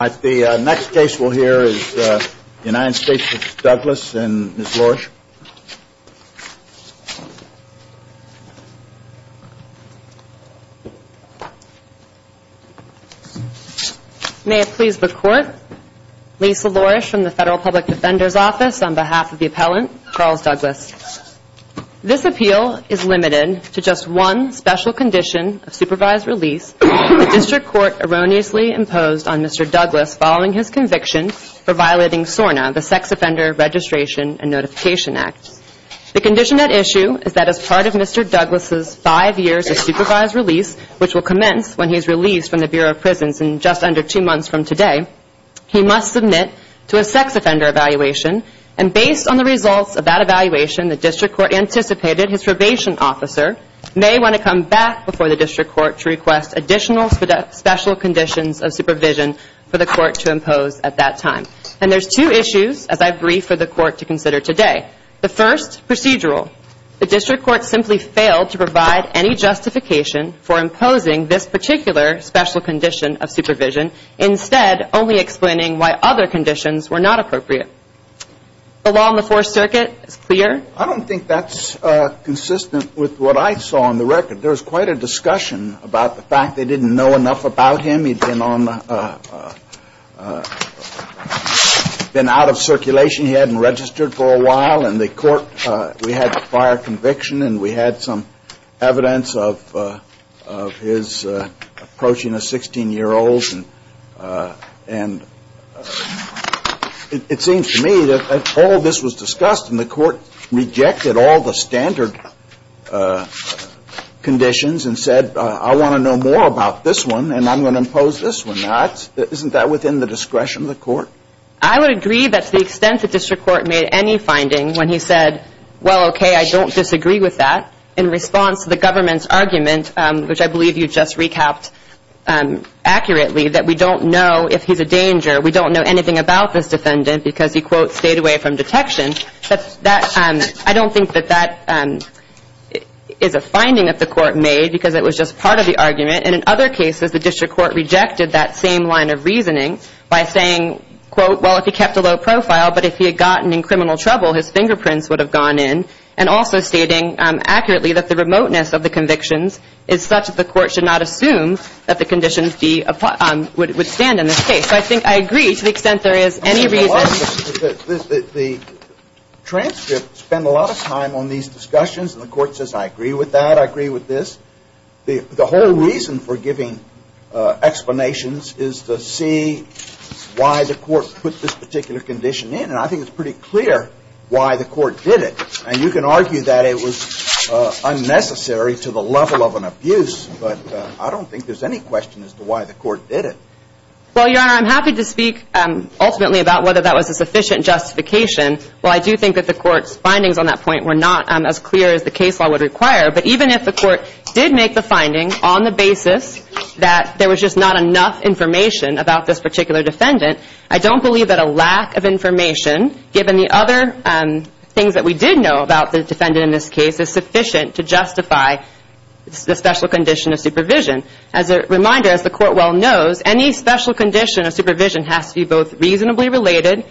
The next case we'll hear is the United States v. Douglas and Ms. Lourish. May it please the Court, Lisa Lourish from the Federal Public Defender's Office on behalf of the appellant, Charles Douglas. This appeal is limited to just one special condition of supervised release that the District Court has given to Mr. Douglas following his conviction for violating SORNA, the Sex Offender Registration and Notification Act. The condition at issue is that as part of Mr. Douglas' five years of supervised release, which will commence when he is released from the Bureau of Prisons in just under two months from today, he must submit to a sex offender evaluation. And based on the results of that evaluation, the District Court anticipated his probation officer may want to come back before the District Court to request additional special conditions of supervision for the Court to impose at that time. And there's two issues, as I've briefed for the Court to consider today. The first, procedural. The District Court simply failed to provide any justification for imposing this particular special condition of supervision, instead only explaining why other conditions were not appropriate. The law in the Fourth Circuit is clear. The Court I don't think that's consistent with what I saw on the record. There was quite a discussion about the fact they didn't know enough about him. He'd been out of circulation. He hadn't registered for a while. And the Court, we had the prior conviction and we had some evidence of his approaching a 16-year-old. And it seems to me that all this was discussed and the Court rejected all the standard conditions and said, I want to know more about this one. And I'm going to impose this one not. Isn't that within the discretion of the Court? I would agree that to the extent the District Court made any finding when he said, well, okay, I don't disagree with that, in response to the government's argument, which I believe you just recapped accurately, that we don't know if he's a danger. We don't know anything about this defendant because he, quote, stayed away from detection. I don't think that that is a finding that the Court made because it was just part of the argument. And in other cases, the District Court rejected that same line of reasoning by saying, quote, well, if he kept a low profile, but if he had gotten in criminal trouble, his fingerprints would have gone in, and also stating accurately that the remoteness of the convictions is such that the Court should not assume that the conditions would stand in this case. So I think I agree to the extent there is any reason. The transcripts spend a lot of time on these discussions and the Court says, I agree with that, I agree with this. The whole reason for giving explanations is to see why the Court put this particular condition in. And I think it's pretty clear why the Court did it. And you can argue that it was unnecessary to the level of an abuse, but I don't think there's any question as to why the Court did it. Well, Your Honor, I'm happy to speak ultimately about whether that was a sufficient justification. Well, I do think that the Court's findings on that point were not as clear as the case law would require. But even if the Court did make the findings on the basis that there was just not enough information about this particular defendant, I don't believe that a lack of information, given the other things that we did know about the defendant in this case, is sufficient to justify the special condition of supervision. As a reminder, as the Court well knows, any special condition of supervision has to be both reasonably related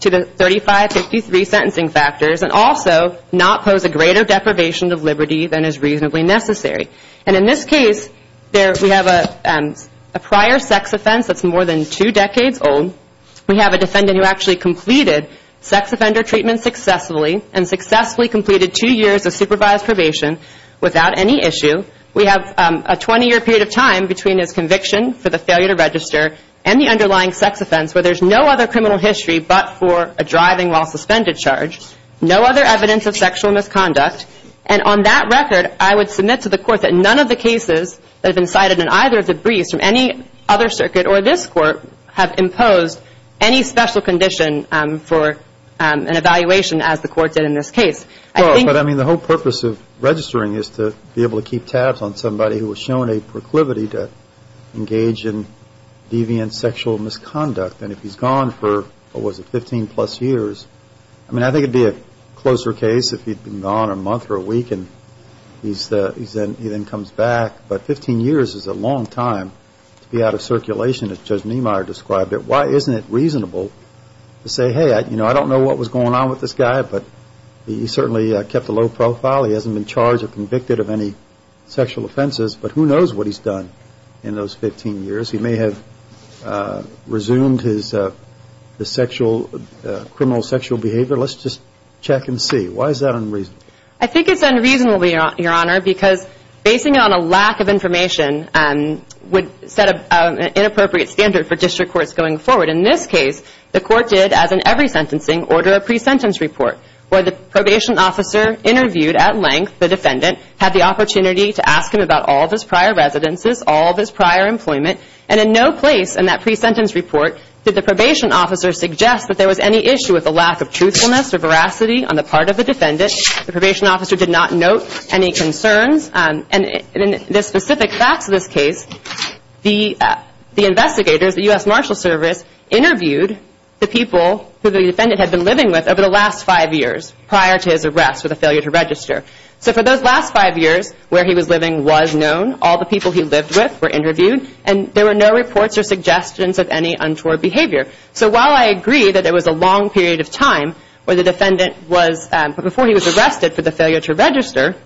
to the 3553 sentencing factors, and also not pose a greater deprivation of liberty than is reasonably necessary. And in this case, we have a prior sex offense that's more than two decades old. We have a defendant who actually completed sex offender treatment successfully, and successfully completed two years of supervised probation without any issue. We have a 20-year period of time between his conviction for the failure to register and the underlying sex offense, where there's no other criminal history but for a driving while suspended charge, no other evidence of sexual misconduct. And on that record, I would submit to the Court that none of the cases that have been cited in either of the briefs from any other circuit or this Court have imposed any special condition for an evaluation as the Court did in this case. I think... Well, but I mean, the whole purpose of registering is to be able to keep tabs on somebody who was shown a proclivity to engage in deviant sexual misconduct. And if he's gone for, what was it, 15-plus years, I mean, I think it'd be a closer case if he'd been gone a month or a week, and he then comes back. But 15 years is a long time to be out of circulation, as Judge Niemeyer described it. Why isn't it reasonable to say, hey, you know, I don't know what was going on with this guy, but he certainly kept a low profile, he hasn't been charged or convicted of any sexual offenses, but who knows what he's done in those 15 years? He may have resumed his sexual, criminal sexual behavior. Let's just check and see. Why is that unreasonable? I think it's unreasonable, Your Honor, because basing it on a lack of information would set an inappropriate standard for district courts going forward. In this case, the Court did, as in every sentencing, order a pre-sentence report, where the probation officer interviewed at length the defendant, had the opportunity to ask him about all of his prior residences, all of his prior employment, and in no place in that pre-sentence report did the probation officer suggest that there was any issue with the lack of truthfulness or veracity on the part of the defendant. The probation officer did not note any concerns, and in the specific facts of this case, the investigators, the U.S. Marshal Service, interviewed the people who the defendant had been living with over the last five years prior to his arrest with a failure to register. So for those last five years where he was living was known, all the people he lived with were interviewed, and there were no reports or suggestions of any untoward behavior. So while I agree that there was a long period of time where the defendant was, before he was arrested for the failure to register,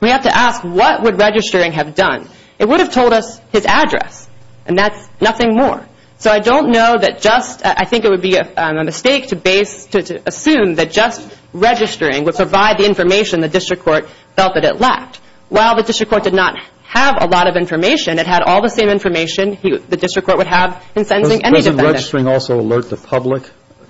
we have to ask what would registering have done? It would have told us his address, and that's nothing more. So I don't know that just, I think it would be a mistake to assume that just registering would provide the information the district court felt that it lacked. While the district court did not have a lot of information, it had all the same information the district court would have in sentencing any defendant. Does registering also alert the public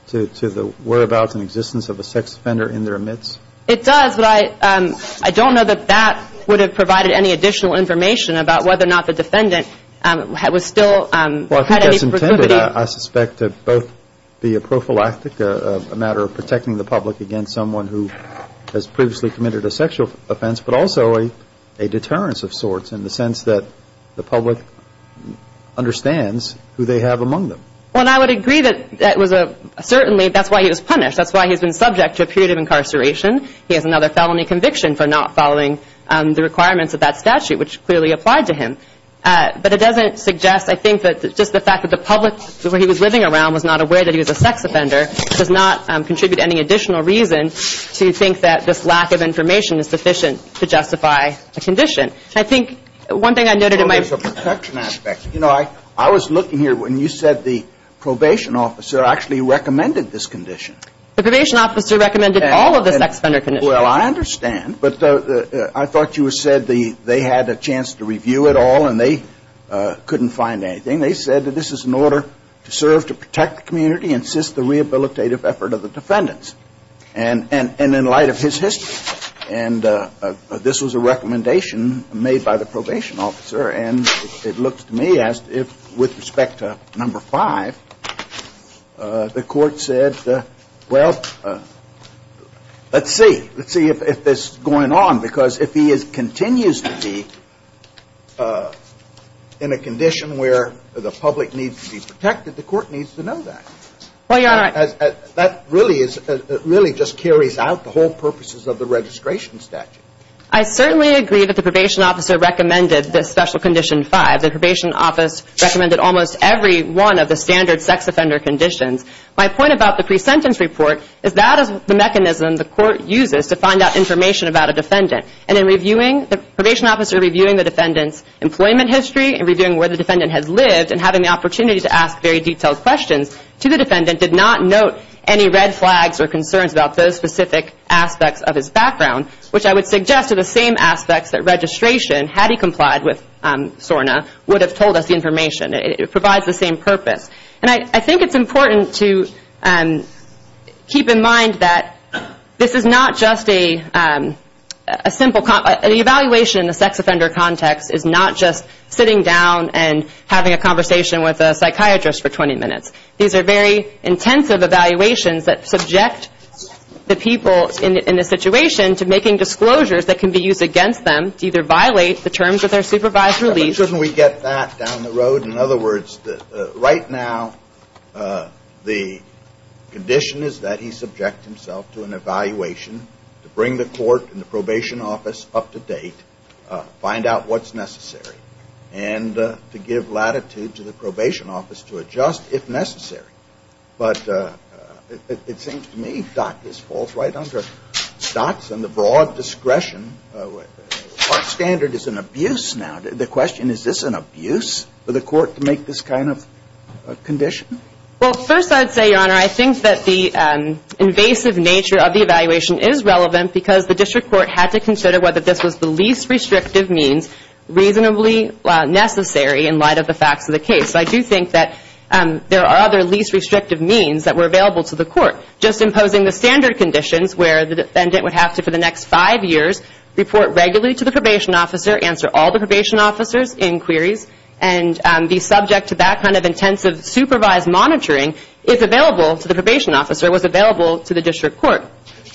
to the whereabouts and existence of a sex offender in their midst? It does, but I don't know that that would have provided any additional information about whether or not the defendant was still had any proclivity. Well, I think that's intended, I suspect, to both be a prophylactic, a matter of protecting the public against someone who has previously committed a sexual offense, but also a deterrence of sorts in the sense that the public understands who they have among them. Well, and I would agree that that was a, certainly, that's why he was punished. That's why he's been subject to a period of incarceration. He has another felony conviction for not following the requirements of that statute, which clearly applied to him. But it doesn't suggest, I think, that just the fact that the public where he was living around was not aware that he was a sex offender does not contribute any additional reason to think that this lack of information is sufficient to justify a condition. I think one thing I noted in my – Well, there's a protection aspect. You know, I was looking here when you said the probation officer actually recommended this condition. The probation officer recommended all of the sex offender conditions. Well, I understand, but I thought you said they had a chance to review it all and they couldn't find anything. They said that this is in order to serve to protect the community and assist the rehabilitative effort of the defendants. And in light of his history, and this was a recommendation made by the probation officer, and it looks to me as if with respect to number five, the court said, well, let's see. Let's see if this is going on, because if he continues to be in a condition where the public needs to be protected, the court needs to know that. Well, Your Honor – That really is – it really just carries out the whole purposes of the registration statute. I certainly agree that the probation officer recommended this special condition five. The probation office recommended almost every one of the standard sex offender conditions. My point about the pre-sentence report is that is the mechanism the court uses to find out information about a defendant. And in reviewing – the probation officer reviewing the defendant's employment history, in reviewing where the defendant has lived, and having the opportunity to ask very detailed questions to the defendant, did not note any red flags or concerns about those specific aspects of his background, which I would suggest are the same aspects that registration, had he complied with SORNA, would have told us the information. It provides the same purpose. And I think it's important to keep in mind that this is not just a simple – an evaluation in a sex offender context is not just sitting down and having a conversation with a psychiatrist for 20 minutes. These are very intensive evaluations that subject the people in the situation to making disclosures that can be used against them to either violate the terms of their supervised release – Now, the condition is that he subject himself to an evaluation to bring the court and the probation office up to date, find out what's necessary, and to give latitude to the probation office to adjust if necessary. But it seems to me, Doc, this falls right under Stotts and the broad discretion – standard is an abuse now. The question, is this an abuse for the court to make this kind of condition? Well, first I would say, Your Honor, I think that the invasive nature of the evaluation is relevant because the district court had to consider whether this was the least restrictive means reasonably necessary in light of the facts of the case. I do think that there are other least restrictive means that were available to the court. Just imposing the standard conditions where the defendant would have to, for the next probation officers, inquiries, and be subject to that kind of intensive supervised monitoring if available to the probation officer was available to the district court.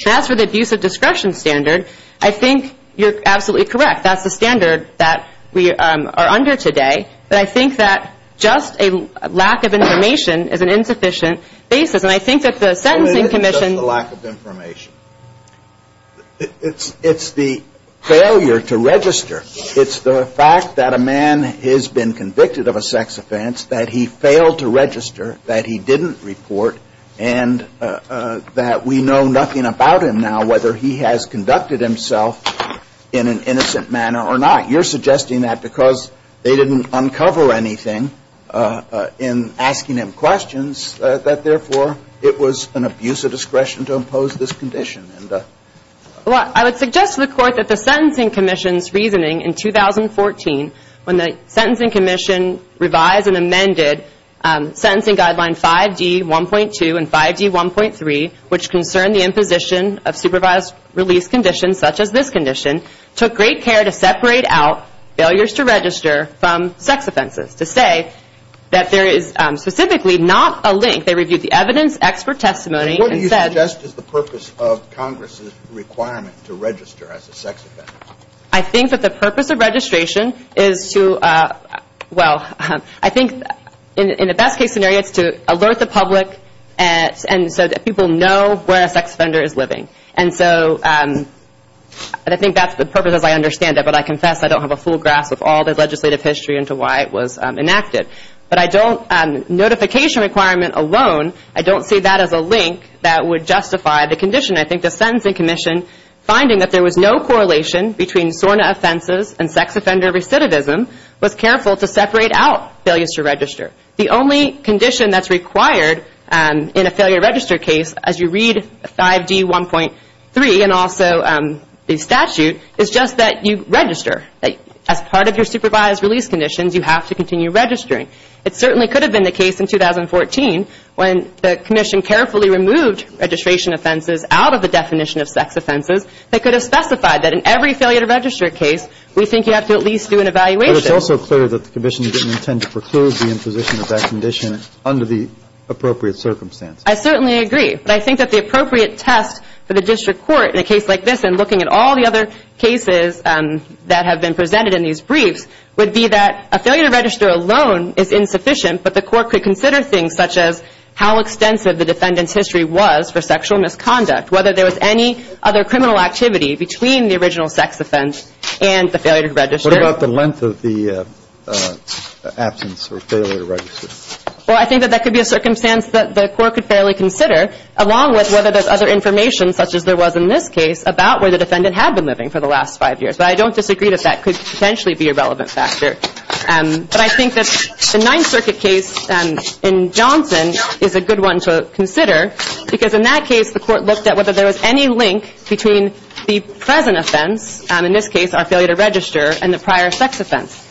As for the abuse of discretion standard, I think you're absolutely correct. That's the standard that we are under today, but I think that just a lack of information is an insufficient basis, and I think that the sentencing commission – The fact that a man has been convicted of a sex offense, that he failed to register, that he didn't report, and that we know nothing about him now, whether he has conducted himself in an innocent manner or not. You're suggesting that because they didn't uncover anything in asking him questions, that therefore it was an abuse of discretion to impose this condition. Well, I would suggest to the court that the sentencing commission's reasoning in 2014, when the sentencing commission revised and amended sentencing guideline 5D1.2 and 5D1.3, which concerned the imposition of supervised release conditions, such as this condition, took great care to separate out failures to register from sex offenses. To say that there is specifically not a link, they reviewed the evidence, expert testimony, and said – What do you suggest is the purpose of Congress's requirement to register as a sex offender? I think that the purpose of registration is to, well, I think in the best case scenario it's to alert the public and so that people know where a sex offender is living. And so I think that's the purpose as I understand it, but I confess I don't have a full grasp of all the legislative history into why it was enacted. But notification requirement alone, I don't see that as a link that would justify the condition. I think the sentencing commission, finding that there was no correlation between SORNA offenses and sex offender recidivism, was careful to separate out failures to register. The only condition that's required in a failure to register case, as you read 5D1.3 and also the statute, is just that you register. As part of your supervised release conditions, you have to continue registering. It certainly could have been the case in 2014 when the commission carefully removed registration offenses out of the definition of sex offenses that could have specified that in every failure to register case, we think you have to at least do an evaluation. But it's also clear that the commission didn't intend to preclude the imposition of that condition under the appropriate circumstance. I certainly agree, but I think that the appropriate test for the district court in a case like this and looking at all the other cases that have been presented in these briefs, would be that a failure to register alone is insufficient, but the court could consider things such as how extensive the defendant's history was for sexual misconduct, whether there was any other criminal activity between the original sex offense and the failure to register. What about the length of the absence or failure to register? Well, I think that that could be a circumstance that the court could fairly consider, along with whether there's other information, such as there was in this case, about where the defendant had been living for the last five years. But I don't disagree that that could potentially be a relevant factor. But I think that the Ninth Circuit case in Johnson is a good one to consider, because in that case, the court looked at whether there was any link between the present offense, in this case, our failure to register, and the prior sex offense.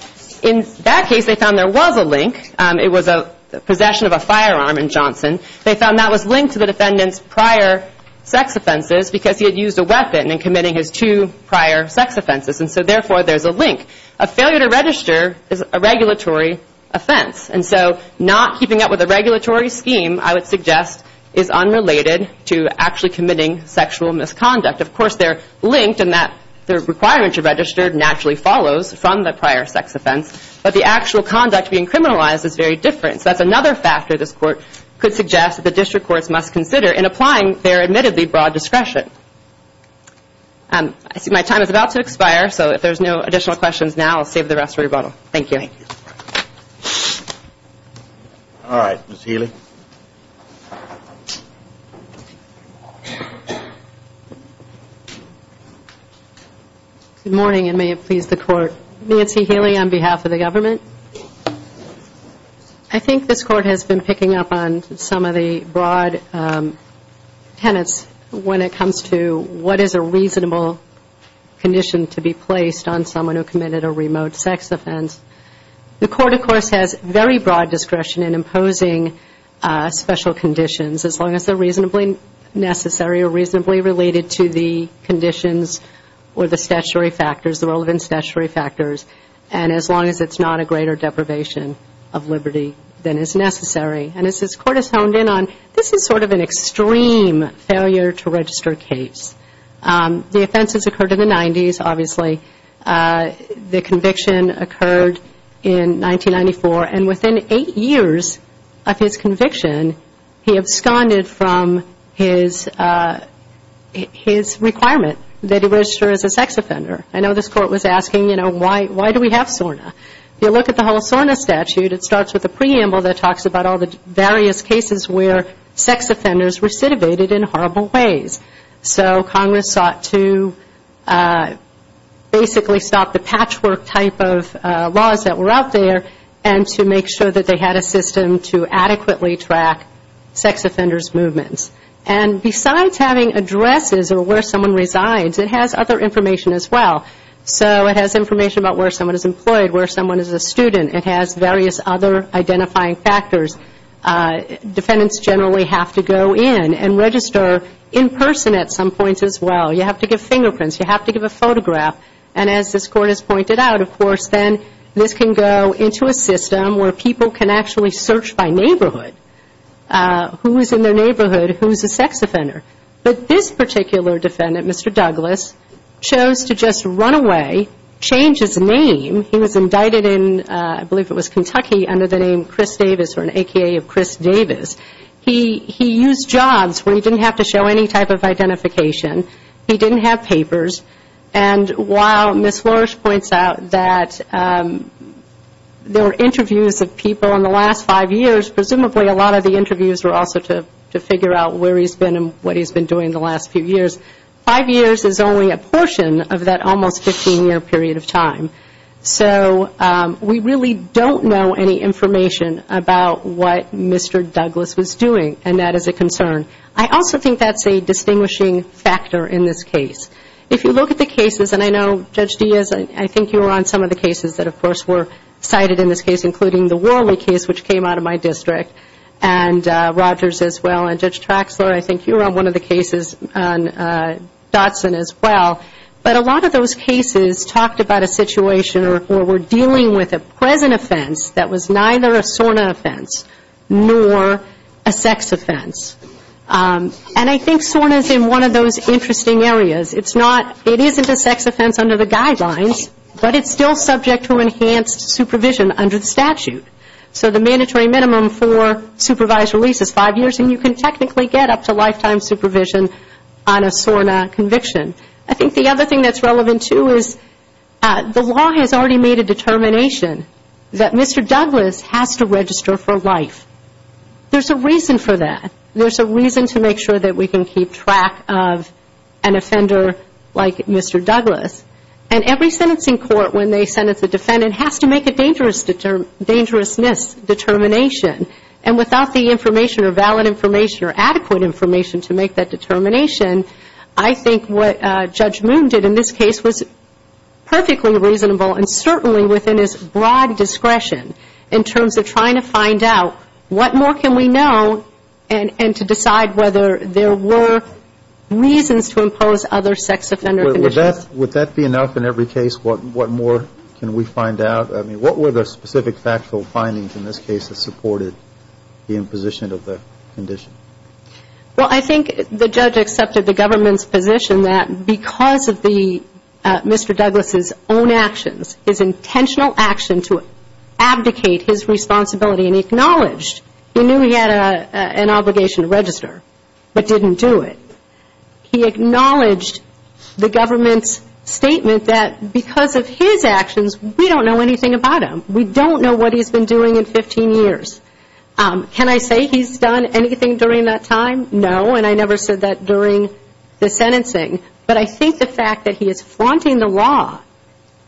In that case, they found there was a link. It was a possession of a firearm in Johnson. They found that was linked to the defendant's prior sex offenses, because he had used a weapon in committing his two prior sex offenses. And so, therefore, there's a link. A failure to register is a regulatory offense. And so, not keeping up with a regulatory scheme, I would suggest, is unrelated to actually committing sexual misconduct. Of course, they're linked in that the requirement to register naturally follows from the prior sex offense, but the actual conduct being criminalized is very different. So, that's another factor this court could suggest that the district courts must consider in applying their admittedly broad discretion. I see my time is about to expire. So, if there's no additional questions now, I'll save the rest for rebuttal. Thank you. All right, Ms. Healy. Good morning, and may it please the court. Nancy Healy on behalf of the government. I think this court has been picking up on some of the broad tenets when it comes to what is a reasonable condition to be placed on someone who committed a remote sex offense. The court, of course, has very broad discretion in imposing special conditions, as long as they're reasonably necessary or reasonably related to the conditions or the statutory factors, the relevant statutory factors. And as long as it's not a greater deprivation of liberty than is necessary. And as this court has honed in on, this is sort of an extreme failure to register case. The offenses occurred in the 90s, obviously. The conviction occurred in 1994, and within eight years of his conviction, he absconded from his requirement that he register as a sex offender. I know this court was asking, you know, why do we have SORNA? If you look at the whole SORNA statute, it starts with a preamble that talks about all the various cases where sex offenders recidivated in horrible ways. So Congress sought to basically stop the patchwork type of laws that were out there and to make sure that they had a system to adequately track sex offenders' movements. And besides having addresses or where someone resides, it has other information as well. So it has information about where someone is employed, where someone is a student. It has various other identifying factors. Defendants generally have to go in and register in person at some point as well. You have to give fingerprints. You have to give a photograph. And as this court has pointed out, of course, then this can go into a system where people can actually search by neighborhood. Who is in their neighborhood? Who is a sex offender? But this particular defendant, Mr. Douglas, chose to just run away, change his name. He was indicted in, I believe it was Kentucky, under the name Chris Davis or an A.K.A. of Chris Davis. He used jobs where he didn't have to show any type of identification. He didn't have papers. And while Ms. Flores points out that there were interviews of people in the last five years, presumably a lot of the interviews were also to figure out where he's been and what he's been doing in the last few years, five years is only a portion of that almost 15-year period of time. So we really don't know any information about what Mr. Douglas was doing. And that is a concern. I also think that's a distinguishing factor in this case. If you look at the cases, and I know, Judge Diaz, I think you were on some of the cases that, of course, were cited in this case, including the Worley case, which came out of my district, and Rogers as well, and Judge Traxler, I think you were on one of the cases on Dotson as well. But a lot of those cases talked about a situation where we're dealing with a present offense that was neither a SORNA offense nor a sex offense. And I think SORNA is in one of those interesting areas. It isn't a sex offense under the guidelines, but it's still subject to enhanced supervision under the statute. So the mandatory minimum for supervised release is five years, and you can technically get up to lifetime supervision on a SORNA conviction. I think the other thing that's relevant, too, is the law has already made a determination that Mr. Douglas has to register for life. There's a reason for that. There's a reason to make sure that we can keep track of an offender like Mr. Douglas. And every sentencing court, when they sentence a defendant, has to make a dangerousness determination. And without the information or valid information or adequate information to make that determination, I think what Judge Moon did in this case was perfectly reasonable and certainly within his broad discretion in terms of trying to find out what more can we know and to decide whether there were reasons to impose other sex offender conditions. Would that be enough in every case? What more can we find out? I mean, what were the specific factual findings in this case that supported the imposition of the condition? Well, I think the judge accepted the government's position that because of Mr. Douglas's own actions, his intentional action to abdicate his responsibility and acknowledged he knew he had an obligation to register, but didn't do it. He acknowledged the government's statement that because of his actions, we don't know anything about him. We don't know what he's been doing in 15 years. Can I say he's done anything during that time? No, and I never said that during the sentencing. But I think the fact that he is flaunting the law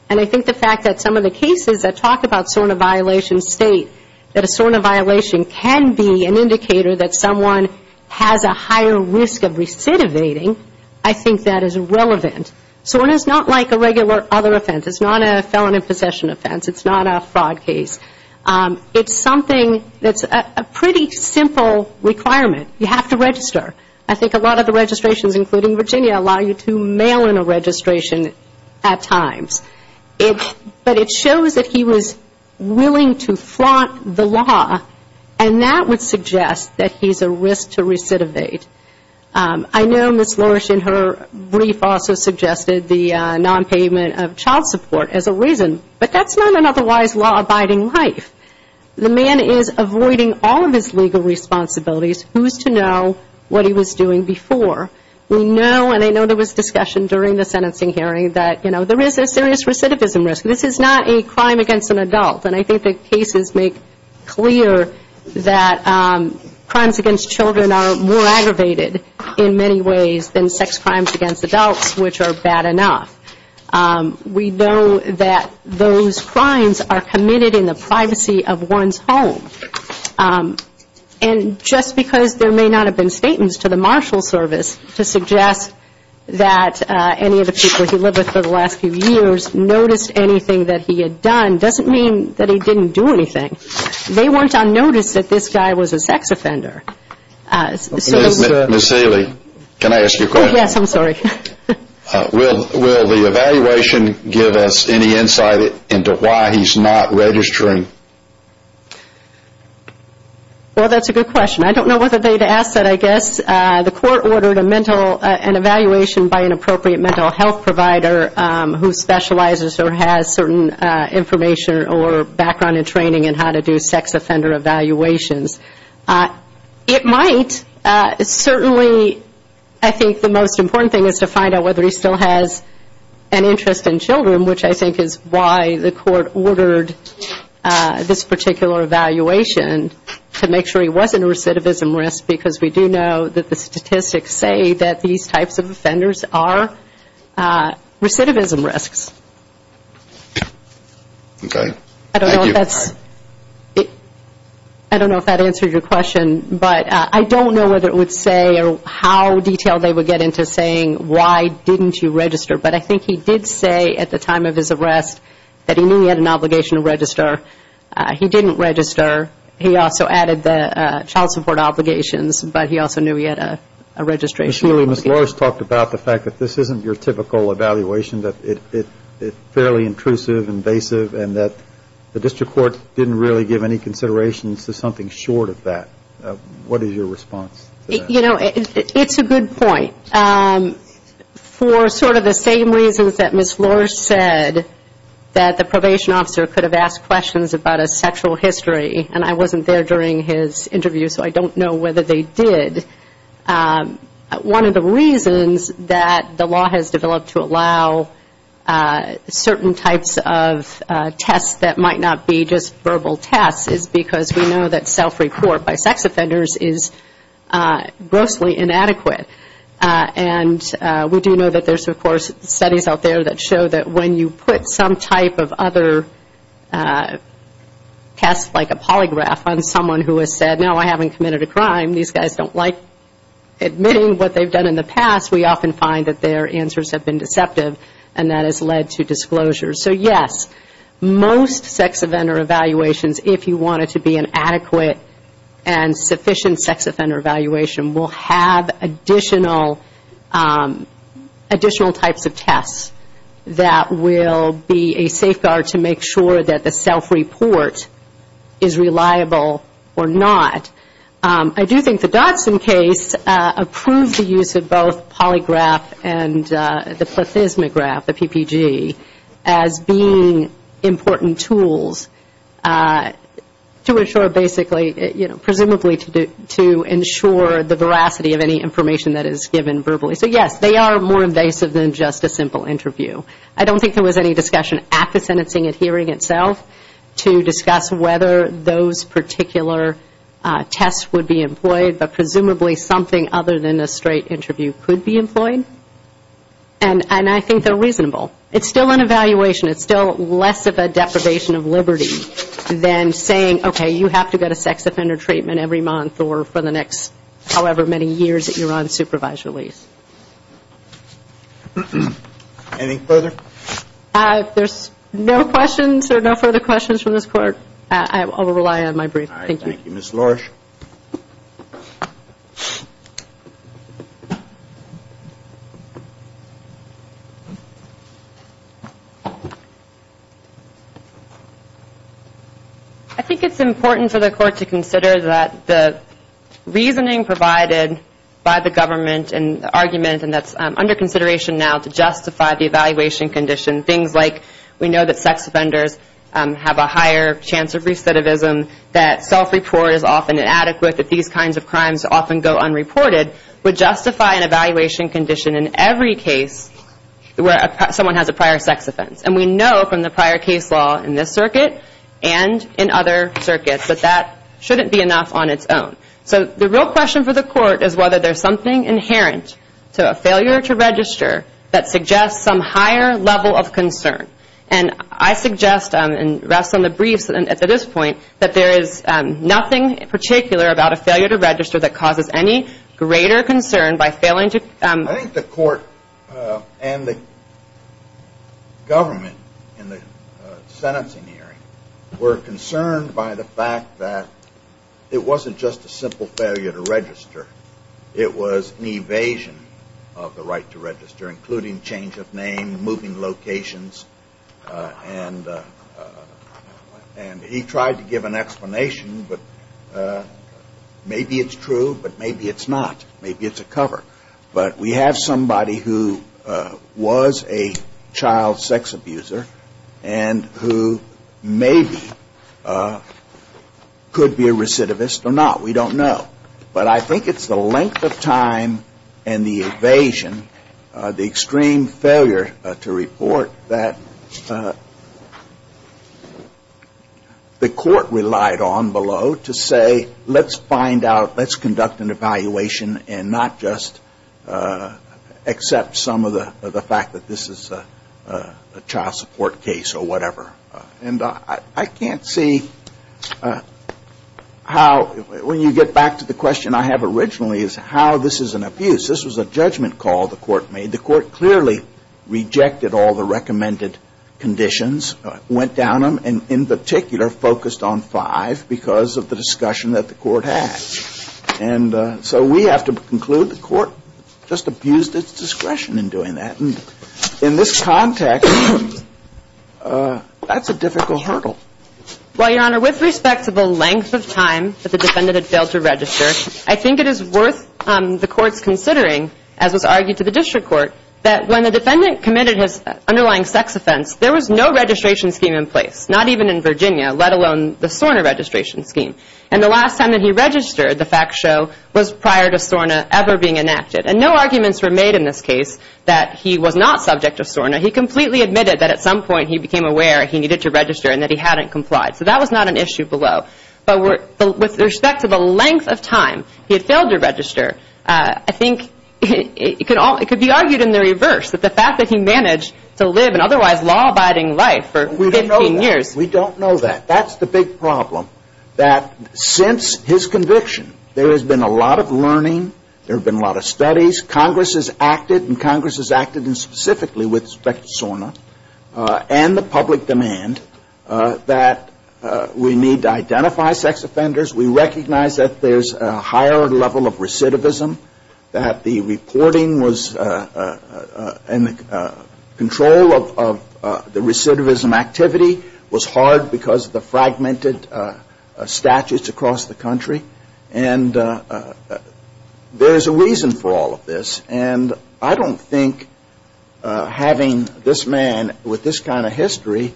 and I think the fact that some of the cases that talk about SORNA violations state that a SORNA violation can be an indicator that someone has a higher risk of recidivating, I think that is relevant. SORNA is not like a regular other offense. It's not a felon in possession offense. It's not a fraud case. It's something that's a pretty simple requirement. You have to register. I think a lot of the registrations, including Virginia, allow you to mail in a registration at times. But it shows that he was willing to flaunt the law, and that would suggest that he's a risk to recidivate. I know Ms. Lorsch in her brief also suggested the non-payment of child support as a reason, but that's not an otherwise law-abiding life. The man is avoiding all of his legal responsibilities. Who's to know what he was doing before? We know, and I know there was discussion during the sentencing hearing, that there is a serious recidivism risk. This is not a crime against an adult, and I think the cases make clear that crimes against children are more aggravated in many ways than sex crimes against adults, which are bad enough. We know that those crimes are committed in the privacy of one's home, and just because there may not have been statements to the Marshal Service to suggest that any of the people he lived with for the last few years noticed anything that he had done doesn't mean that he didn't do anything. They weren't unnoticed that this guy was a sex offender. Ms. Seeley, can I ask you a question? Yes, I'm sorry. Will the evaluation give us any insight into why he's not registering? Well, that's a good question. I don't know whether they'd ask that, I guess. The court ordered an evaluation by an appropriate mental health provider who specializes or has certain information or background and training in how to do sex offender evaluations. It might. Certainly, I think the most important thing is to find out whether he still has an interest in children, which I think is why the court ordered this particular evaluation, to make sure he wasn't a recidivism risk, because we do know that the statistics say that these types of offenders are recidivism risks. Okay. Thank you. I don't know if that answered your question, but I don't know whether it would say or how detailed they would get into saying why didn't you register, but I think he did say at the time of his arrest that he knew he had an obligation to register. He didn't register. He also added the child support obligations, but he also knew he had a registration. Ms. Seeley, Ms. Loris talked about the fact that this isn't your typical evaluation, that it's fairly intrusive, invasive, and that the district court didn't really give any considerations to something short of that. What is your response to that? You know, it's a good point. For sort of the same reasons that Ms. Loris said that the probation officer could have asked questions about a sexual history, and I wasn't there during his interview, so I don't know whether they did. And one of the reasons that the law has developed to allow certain types of tests that might not be just verbal tests is because we know that self-report by sex offenders is grossly inadequate. And we do know that there's, of course, studies out there that show that when you put some type of other test, like a polygraph on someone who has said, no, I haven't committed a crime, admitting what they've done in the past, we often find that their answers have been deceptive, and that has led to disclosure. So, yes, most sex offender evaluations, if you want it to be an adequate and sufficient sex offender evaluation, will have additional types of tests that will be a safeguard to make sure that the self-report is reliable or not. I do think the Dodson case approved the use of both polygraph and the plethysmograph, the PPG, as being important tools to ensure basically, you know, presumably to ensure the veracity of any information that is given verbally. So, yes, they are more invasive than just a simple interview. I don't think there was any discussion at the sentencing and hearing itself to discuss whether those particular tests would be employed, but presumably something other than a straight interview could be employed, and I think they're reasonable. It's still an evaluation. It's still less of a deprivation of liberty than saying, okay, you have to get a sex offender treatment every month or for the next however many years that you're on supervised release. Any further? If there's no questions or no further questions from this Court, I will rely on my brief. Thank you. Ms. Lorsch? I think it's important for the Court to consider that the reasoning provided by the government and the argument that's under consideration now to justify the evaluation condition, things like we know that sex offenders have a higher chance of recidivism, that self-report is often inadequate, that these kinds of crimes often go unreported, would justify an evaluation condition in every case where someone has a prior sex offense. And we know from the prior case law in this circuit and in other circuits that that shouldn't be enough on its own. So the real question for the Court is whether there's something inherent to a failure to register that suggests some higher level of concern. And I suggest, and rest on the briefs at this point, that there is nothing in particular about a failure to register that causes any greater concern by failing to... I think the Court and the government in the sentencing hearing were concerned by the fact that it wasn't just a simple failure to register. It was an evasion of the right to register, including change of name, moving locations, and he tried to give an explanation, but maybe it's true, but maybe it's not. Maybe it's a cover. But we have somebody who was a child sex abuser and who maybe could be a recidivist or not. We don't know. But I think it's the length of time and the evasion, the extreme failure to report that the Court relied on below to say, let's find out, let's conduct an evaluation and not just accept some of the fact that this is a child support case or whatever. And I can't see how, when you get back to the question I have originally is how this is an abuse. This was a judgment call the Court made. The Court clearly rejected all the recommended conditions, went down them, and in particular focused on five because of the discussion that the Court had. And so we have to conclude the Court just abused its discretion in doing that. And in this context, that's a difficult hurdle. Well, Your Honor, with respect to the length of time that the defendant had failed to register, I think it is worth the Court's considering, as was argued to the District Court, that when the defendant committed his underlying sex offense, there was no registration scheme in place, not even in Virginia, let alone the SORNA registration scheme. And the last time that he registered, the facts show, was prior to SORNA ever being enacted. And no arguments were made in this case that he was not subject to SORNA. He completely admitted that at some point he became aware he needed to register and that he hadn't complied. So that was not an issue below. But with respect to the length of time he had failed to register, I think it could be argued in the reverse, that the fact that he managed to live an otherwise law-abiding life for 15 years. We don't know that. That's the big problem, that since his conviction, there has been a lot of learning, there have been a lot of studies. Congress has acted, and Congress has acted specifically with respect to SORNA and the sex offenders. We recognize that there's a higher level of recidivism, that the reporting was, and the control of the recidivism activity was hard because of the fragmented statutes across the country. And there's a reason for all of this. And I don't think having this man with this kind of history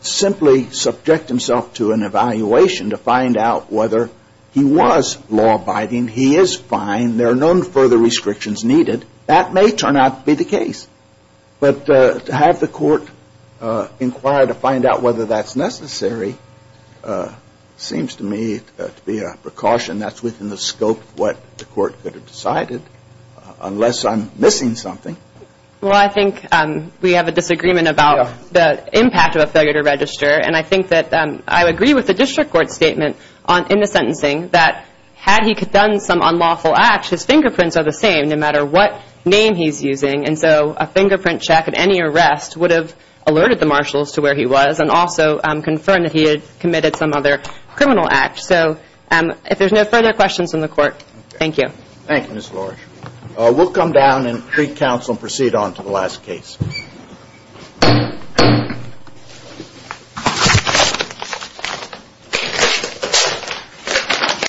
simply subject himself to an evaluation to find out whether he was law-abiding, he is fine, there are no further restrictions needed, that may turn out to be the case. But to have the court inquire to find out whether that's necessary seems to me to be a precaution that's within the scope of what the court could have decided, unless I'm missing something. Well, I think we have a disagreement about the impact of a failure to register. And I think that I agree with the district court statement in the sentencing that had he done some unlawful act, his fingerprints are the same no matter what name he's using. And so a fingerprint check at any arrest would have alerted the marshals to where he was and also confirmed that he had committed some other criminal act. So if there's no further questions from the court, thank you. Thank you, Ms. Lorsch. We'll come down and pre-counsel and proceed on to the last case. Thank you.